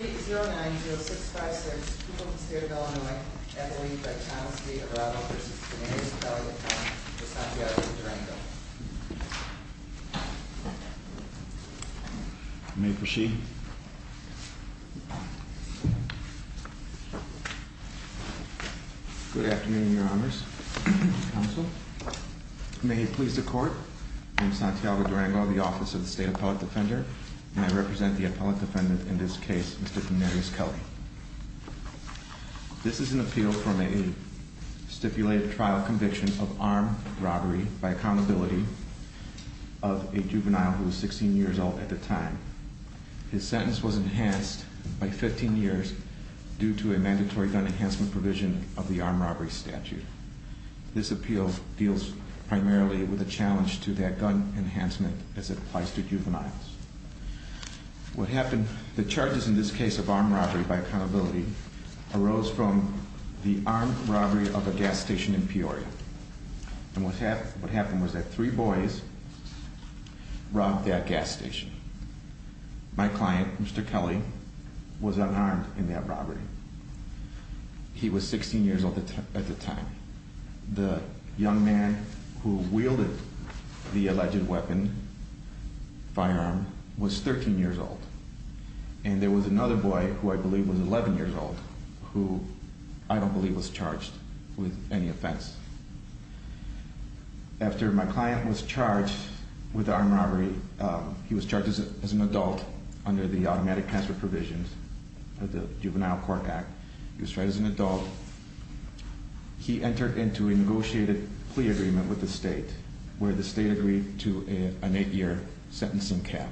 8 0 9 0 6 5 6, people of the state of Illinois, Emily, Brett, Thomas, Lee, O'Rourke, versus Damaris, Appellate Defendant, Ms. Santiago-Durango. May it proceed. Good afternoon, Your Honors. Counsel. May it please the Court, I am Santiago-Durango of the Office of the State Appellate Defender, and I represent the Appellate Defendant in this case, Mr. Damaris Kelly. This is an appeal from a stipulated trial conviction of armed robbery by accountability of a juvenile who was 16 years old at the time. His sentence was enhanced by 15 years due to a mandatory gun enhancement provision of the armed robbery statute. This appeal deals primarily with a challenge to that gun enhancement as it applies to juveniles. The charges in this case of armed robbery by accountability arose from the armed robbery of a gas station in Peoria. And what happened was that three boys robbed that gas station. My client, Mr. Kelly, was unarmed in that robbery. He was 16 years old at the time. The young man who wielded the alleged weapon, firearm, was 13 years old. And there was another boy, who I believe was 11 years old, who I don't believe was charged with any offense. After my client was charged with armed robbery, he was charged as an adult under the automatic transfer provisions of the Juvenile Court Act. He was tried as an adult. He entered into a negotiated plea agreement with the state, where the state agreed to an 8-year sentencing cap.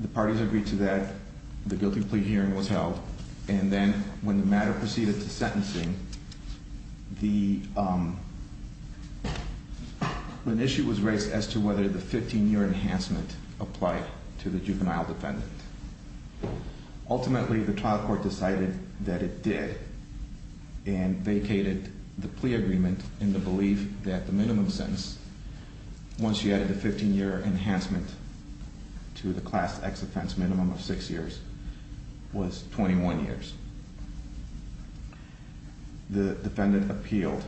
The parties agreed to that. The guilty plea hearing was held. And then when the matter proceeded to sentencing, an issue was raised as to whether the 15-year enhancement applied to the juvenile defendant. Ultimately, the trial court decided that it did, and vacated the plea agreement in the belief that the minimum sentence, once you added the 15-year enhancement to the class X offense minimum of 6 years, was 21 years. The defendant appealed.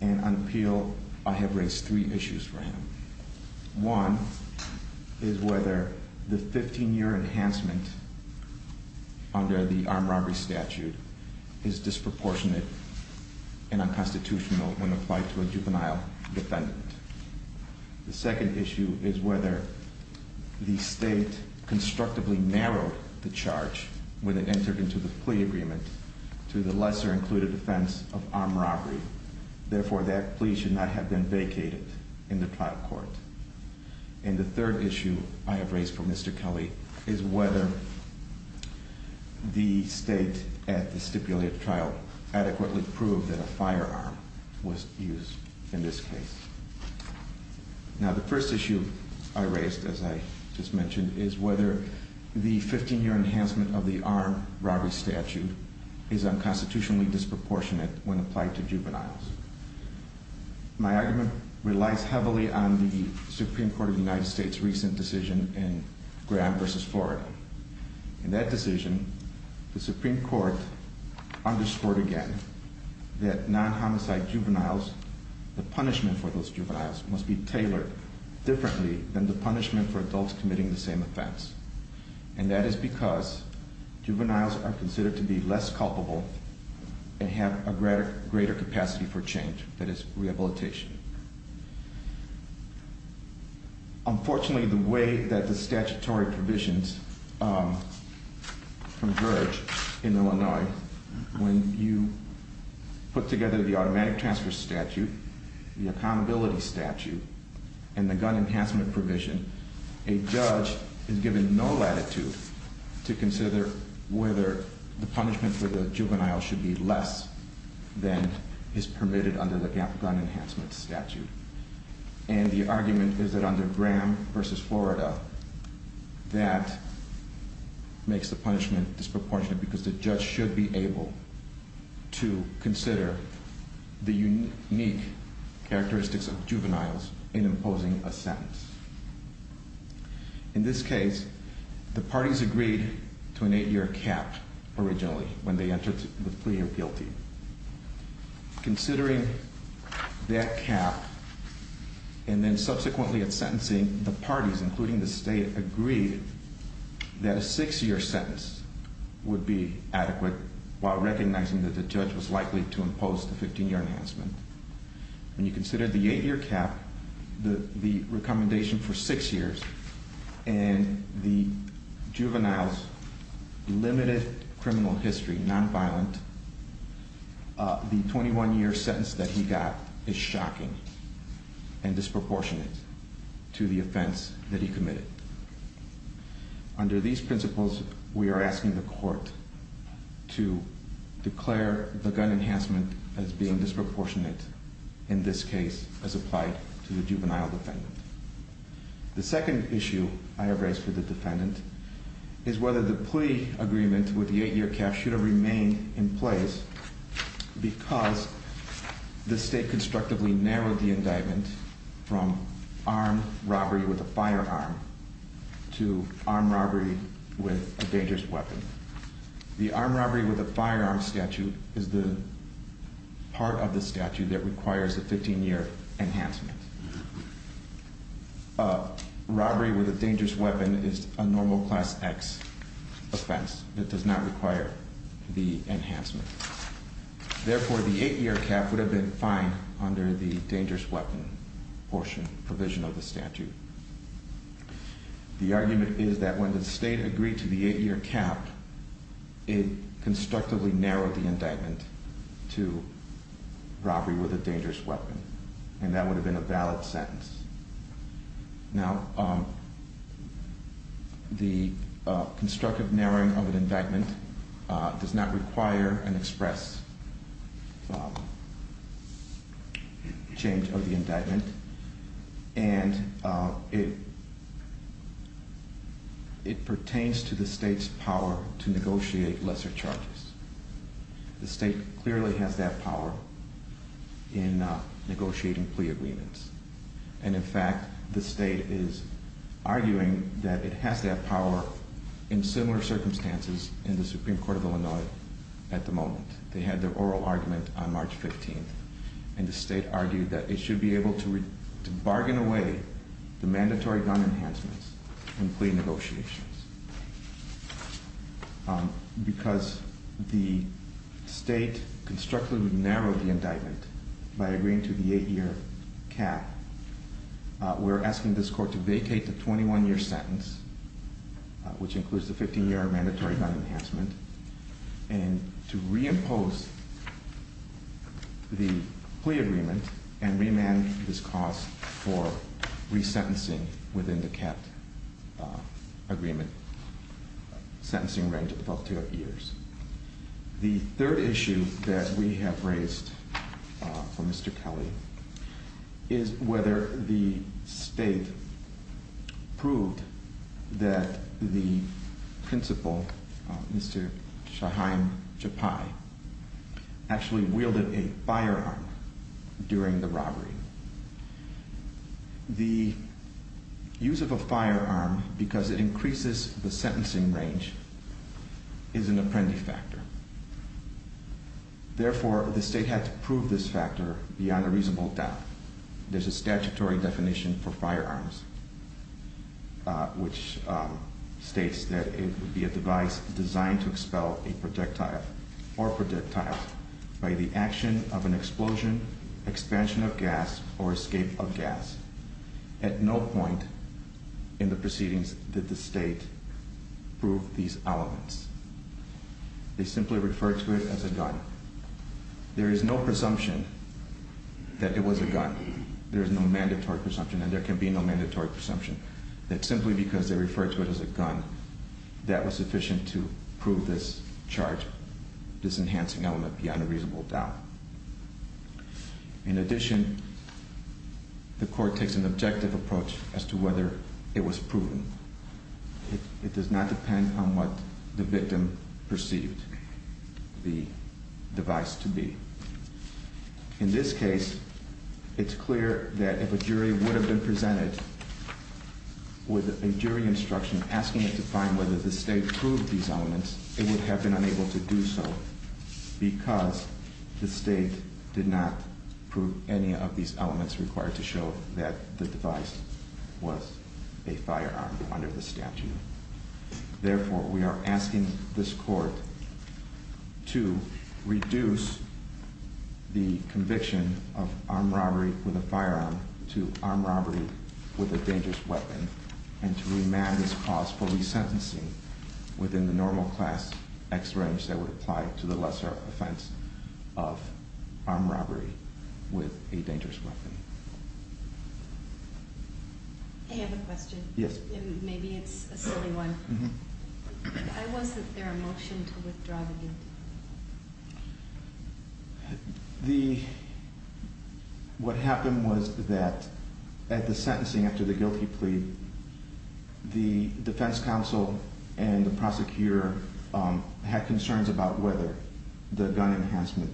And on appeal, I have raised three issues for him. One is whether the 15-year enhancement under the armed robbery statute is disproportionate and unconstitutional when applied to a juvenile defendant. The second issue is whether the state constructively narrowed the charge when it entered into the plea agreement to the lesser included offense of armed robbery. Therefore, that plea should not have been vacated in the trial court. And the third issue I have raised for Mr. Kelly is whether the state at the stipulated trial adequately proved that a firearm was used in this case. Now, the first issue I raised, as I just mentioned, is whether the 15-year enhancement of the armed robbery statute is unconstitutionally disproportionate when applied to juveniles. My argument relies heavily on the Supreme Court of the United States' recent decision in Graham v. Florida. In that decision, the Supreme Court underscored again that non-homicide juveniles, the punishment for those juveniles must be tailored differently than the punishment for adults committing the same offense. And that is because juveniles are considered to be less culpable and have a greater capacity for change, that is, rehabilitation. Unfortunately, the way that the statutory provisions converge in Illinois when you put together the automatic transfer statute, the accountability statute, and the gun enhancement provision, a judge is given no latitude to consider whether the punishment for the juvenile should be less than is permitted under the gun enhancement statute. And the argument is that under Graham v. Florida, that makes the punishment disproportionate because the judge should be able to consider the unique characteristics of juveniles in imposing a sentence. In this case, the parties agreed to an eight-year cap originally when they entered the plea of guilty. Considering that cap, and then subsequently at sentencing, the parties, including the state, agreed that a six-year sentence would be adequate while recognizing that the judge was likely to impose the 15-year enhancement. When you consider the eight-year cap, the recommendation for six years, and the juvenile's limited criminal history, nonviolent, the 21-year sentence that he got is shocking and disproportionate to the offense that he committed. Under these principles, we are asking the court to declare the gun enhancement as being disproportionate in this case as applied to the juvenile defendant. The second issue I have raised with the defendant is whether the plea agreement with the eight-year cap should have remained in place because the state constructively narrowed the indictment from armed robbery with a firearm to armed robbery with a dangerous weapon. The armed robbery with a firearm statute is the part of the statute that requires a 15-year enhancement. Robbery with a dangerous weapon is a normal Class X offense that does not require the enhancement. Therefore, the eight-year cap would have been fine under the dangerous weapon portion, provision of the statute. The argument is that when the state agreed to the eight-year cap, it constructively narrowed the indictment to robbery with a dangerous weapon, and that would have been a valid sentence. Now, the constructive narrowing of an indictment does not require an express change of the indictment, and it pertains to the state's power to negotiate lesser charges. The state clearly has that power in negotiating plea agreements, and in fact, the state is arguing that it has that power in similar circumstances in the Supreme Court of Illinois at the moment. They had their oral argument on March 15th, and the state argued that it should be able to bargain away the mandatory gun enhancements in plea negotiations. Because the state constructively narrowed the indictment by agreeing to the eight-year cap, we're asking this court to vacate the 21-year sentence which includes the 15-year mandatory gun enhancement, and to reimpose the plea agreement and remand this cause for resentencing within the cap agreement sentencing range of 12 to 12 years. The third issue that we have raised for Mr. Kelly is whether the state proved that the principal, Mr. Shaheim Jappai, actually wielded a firearm during the robbery. The use of a firearm, because it increases the sentencing range, is an apprentice factor. Therefore, the state had to prove this factor beyond a reasonable doubt. There's a statutory definition for firearms which states that it would be a device designed to expel a projectile or projectiles by the action of an explosion, expansion of gas, or escape of gas. At no point in the proceedings did the state prove these elements. They simply referred to it as a gun. There is no presumption that it was a gun. There is no mandatory presumption, and there can be no mandatory presumption, that simply because they referred to it as a gun, that was sufficient to prove this charge, this enhancing element, beyond a reasonable doubt. In addition, the court takes an objective approach as to whether it was proven. It does not depend on what the victim perceived the device to be. In this case, it's clear that if a jury would have been presented with a jury instruction asking it to find whether the state proved these elements, it would have been unable to do so because the state did not prove any of these elements required to show that the device was a firearm. Under the statute. Therefore, we are asking this court to reduce the conviction of armed robbery with a firearm to armed robbery with a dangerous weapon and to remand this cause for resentencing within the normal class X range that would apply to the lesser offense of armed robbery with a dangerous weapon. I have a question. Maybe it's a silly one. Why wasn't there a motion to withdraw the guilty plea? What happened was that at the sentencing after the guilty plea, the defense counsel and the prosecutor had concerns about whether the gun enhancement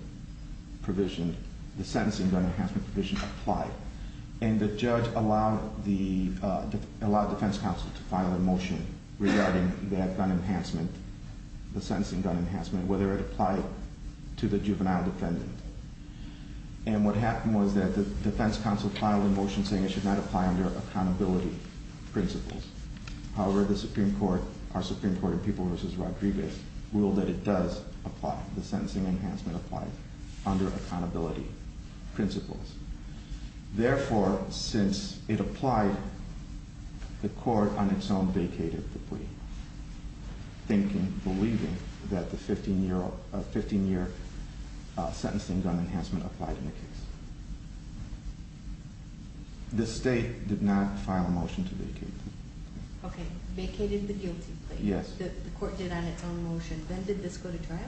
provision, the sentencing gun enhancement provision applied. And the judge allowed the defense counsel to file a motion regarding that gun enhancement, the sentencing gun enhancement, whether it applied to the juvenile defendant. And what happened was that the defense counsel filed a motion saying it should not apply under accountability principles. However, the Supreme Court, our Supreme Court in People v. Rodriguez, ruled that it does apply. The sentencing enhancement applies under accountability principles. Therefore, since it applied, the court on its own vacated the plea, believing that the 15-year sentencing gun enhancement applied in the case. The state did not file a motion to vacate the plea. Okay, vacated the guilty plea. The court did on its own motion. Then did this go to trial?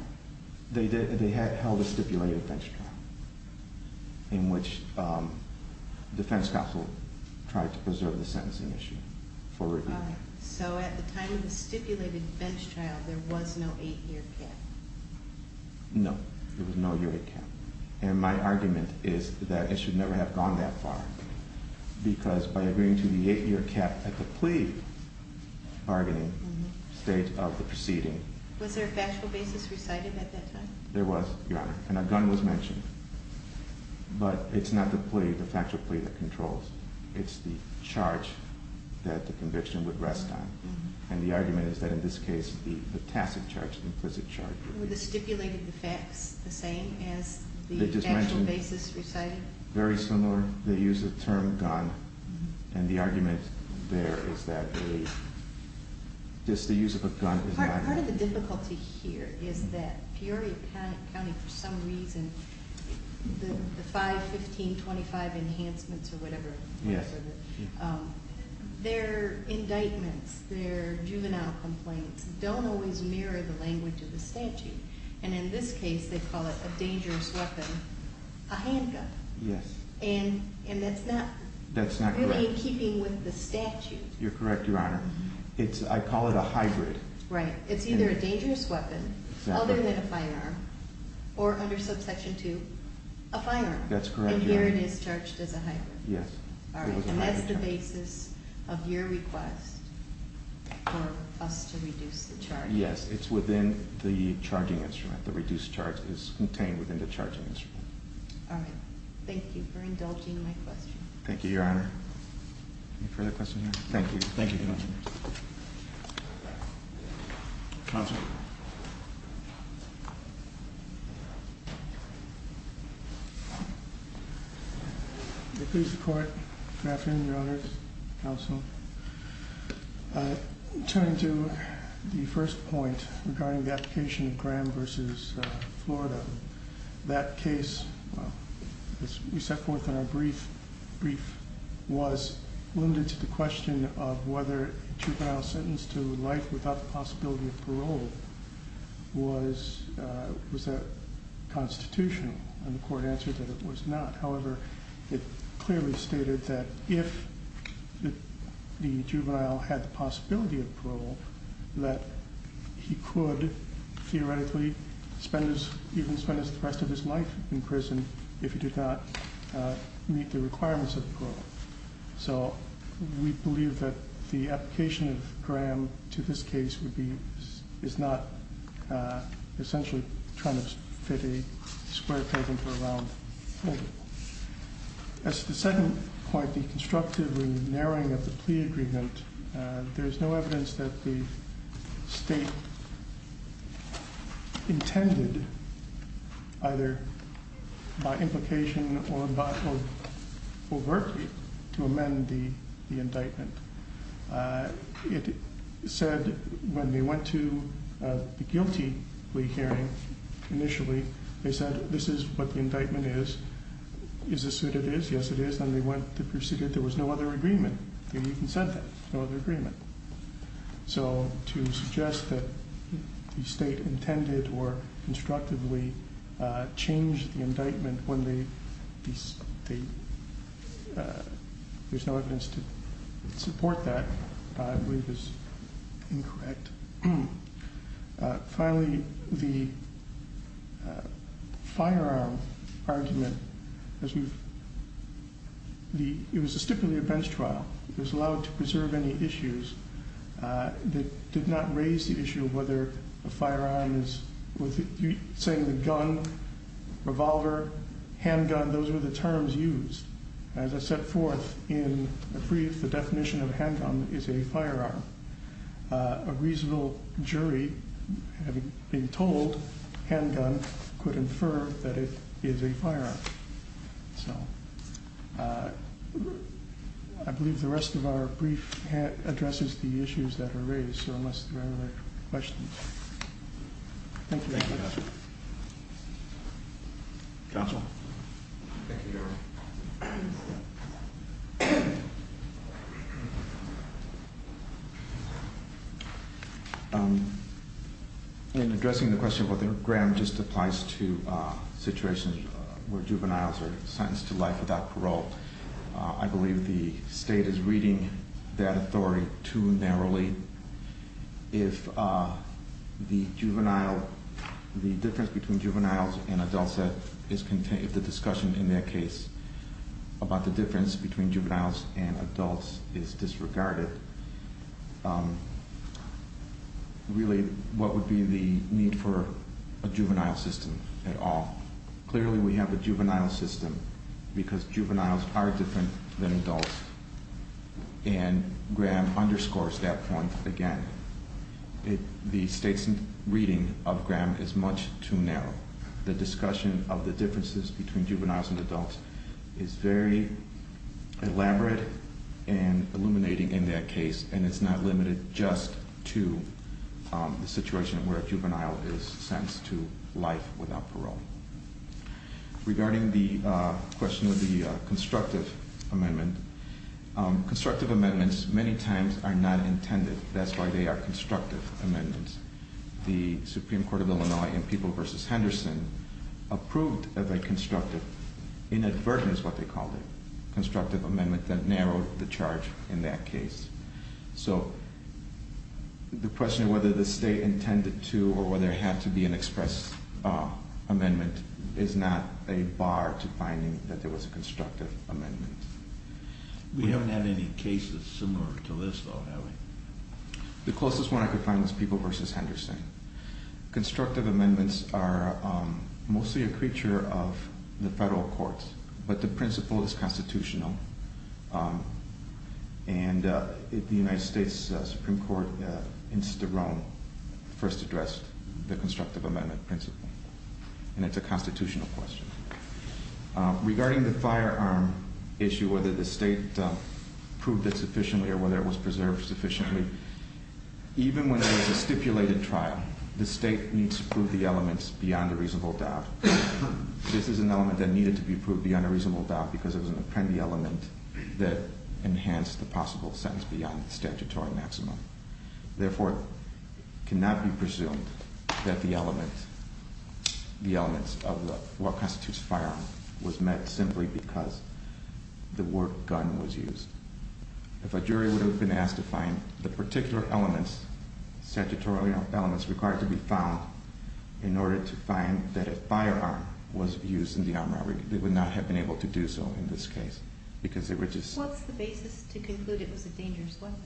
They held a stipulated bench trial in which the defense counsel tried to preserve the sentencing issue for review. So at the time of the stipulated bench trial, there was no 8-year cap? No, there was no 8-year cap. And my argument is that it should never have gone that far because by agreeing to the 8-year cap at the plea bargaining stage of the proceeding… Was there a factual basis recited at that time? There was, Your Honor. But it's not the plea, the factual plea that controls. It's the charge that the conviction would rest on. And the argument is that in this case, the tacit charge, the implicit charge… Were the stipulated facts the same as the actual basis recited? Very similar. They used the term gun. And the argument there is that the… Just the use of a gun… Part of the difficulty here is that Peoria County, for some reason, the 5-15-25 enhancements or whatever, their indictments, their juvenile complaints, don't always mirror the language of the statute. And in this case, they call it a dangerous weapon, a handgun. And that's not really in keeping with the statute. You're correct, Your Honor. I call it a hybrid. Right. It's either a dangerous weapon, other than a firearm, or under subsection 2, a firearm. That's correct, Your Honor. And here it is charged as a hybrid. Yes. All right. And that's the basis of your request for us to reduce the charge. Yes. It's within the charging instrument. The reduced charge is contained within the charging instrument. All right. Thank you for indulging my question. Thank you, Your Honor. Any further questions? Thank you. Counsel? Thank you. Good afternoon, Your Honor, Counsel. Turning to the first point regarding the application of Graham v. Florida. That case, as we set forth in our brief, was limited to the question of whether a juvenile sentenced to life without the possibility of parole was constitutional. And the court answered that it was not. However, it clearly stated that if the juvenile had the possibility of parole, that he could theoretically even spend the rest of his life in prison So we believe that the application of Graham to this case would be, is not essentially trying to fit a square peg into a round hole. As to the second point, the constructive and narrowing of the plea agreement, there is no evidence that the state intended, either by implication or overtly, to amend the indictment. It said when they went to the guilty plea hearing, initially, they said this is what the indictment is. Is this what it is? Yes, it is. And they went to proceed it. There was no other agreement. They even said that. No other agreement. So to suggest that the state intended or constructively changed the indictment when there is no evidence to support that, I believe is incorrect. Finally, the firearm argument, it was a stipulated bench trial. It was allowed to preserve any issues. It did not raise the issue of whether a firearm is, saying the gun, revolver, handgun, those were the terms used. As I set forth in a brief, the definition of a handgun is a firearm. A reasonable jury, having been told handgun, could infer that it is a firearm. So I believe the rest of our brief addresses the issues that are raised, so unless there are other questions. Thank you. Counsel? Thank you, Your Honor. In addressing the question of whether Graham just applies to situations where juveniles are sentenced to life without parole, I believe the state is reading that authority too narrowly. If the difference between juveniles and adults is contained, if the discussion in their case about the difference between juveniles and adults is disregarded, really what would be the need for a juvenile system at all? Clearly we have a juvenile system because juveniles are different than adults, and Graham underscores that point again. The state's reading of Graham is much too narrow. The discussion of the differences between juveniles and adults is very elaborate and illuminating in that case, and it's not limited just to the situation where a juvenile is sentenced to life without parole. Regarding the question of the constructive amendment, constructive amendments many times are not intended. That's why they are constructive amendments. The Supreme Court of Illinois in People v. Henderson approved of a constructive, inadvertent is what they called it, constructive amendment that narrowed the charge in that case. So the question of whether the state intended to or whether there had to be an express amendment is not a bar to finding that there was a constructive amendment. We haven't had any cases similar to this though, have we? The closest one I could find was People v. Henderson. Constructive amendments are mostly a creature of the federal courts, but the principle is constitutional. And the United States Supreme Court in Sterome first addressed the constructive amendment principle, and it's a constitutional question. Regarding the firearm issue, whether the state proved it sufficiently or whether it was preserved sufficiently, even when it was a stipulated trial, the state needs to prove the elements beyond a reasonable doubt. This is an element that needed to be proved beyond a reasonable doubt because it was an apprendee element that enhanced the possible sentence beyond statutory maximum. Therefore, it cannot be presumed that the element, the elements of what constitutes firearm was met simply because the word gun was used. If a jury would have been asked to find the particular elements, statutory elements required to be found in order to find that a firearm was used in the armed robbery, they would not have been able to do so in this case because they were just... What's the basis to conclude it was a dangerous weapon?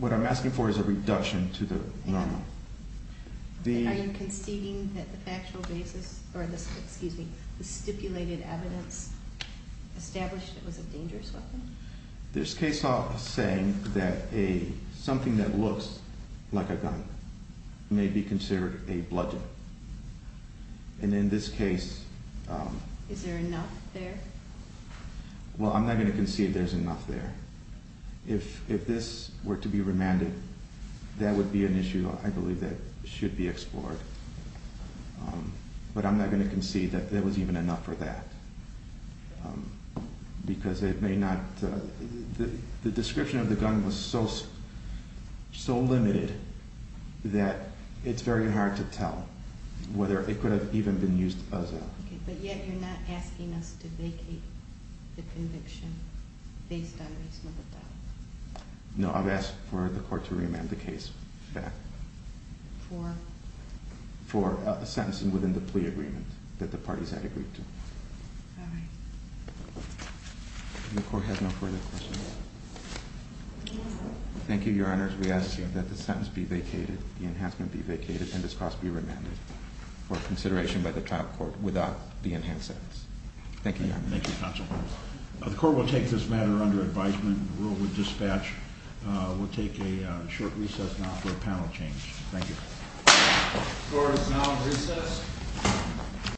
What I'm asking for is a reduction to the normal. Are you conceding that the factual basis, or excuse me, the stipulated evidence established it was a dangerous weapon? There's case law saying that something that looks like a gun may be considered a bludgeon. And in this case... Is there enough there? Well, I'm not going to concede there's enough there. If this were to be remanded, that would be an issue I believe that should be explored. But I'm not going to concede that there was even enough for that because it may not... The description of the gun was so limited that it's very hard to tell whether it could have even been used as a... But yet you're not asking us to vacate the conviction based on reasonable doubt. No, I've asked for the court to remand the case back. For? For a sentencing within the plea agreement that the parties had agreed to. All right. The court has no further questions. Thank you, Your Honor. We ask that the sentence be vacated, the enhancement be vacated, and this cause be remanded for consideration by the trial court without the enhanced sentence. Thank you, Your Honor. Thank you, Counsel. The court will take this matter under advisement. The rule would dispatch. We'll take a short recess now for a panel change. Thank you.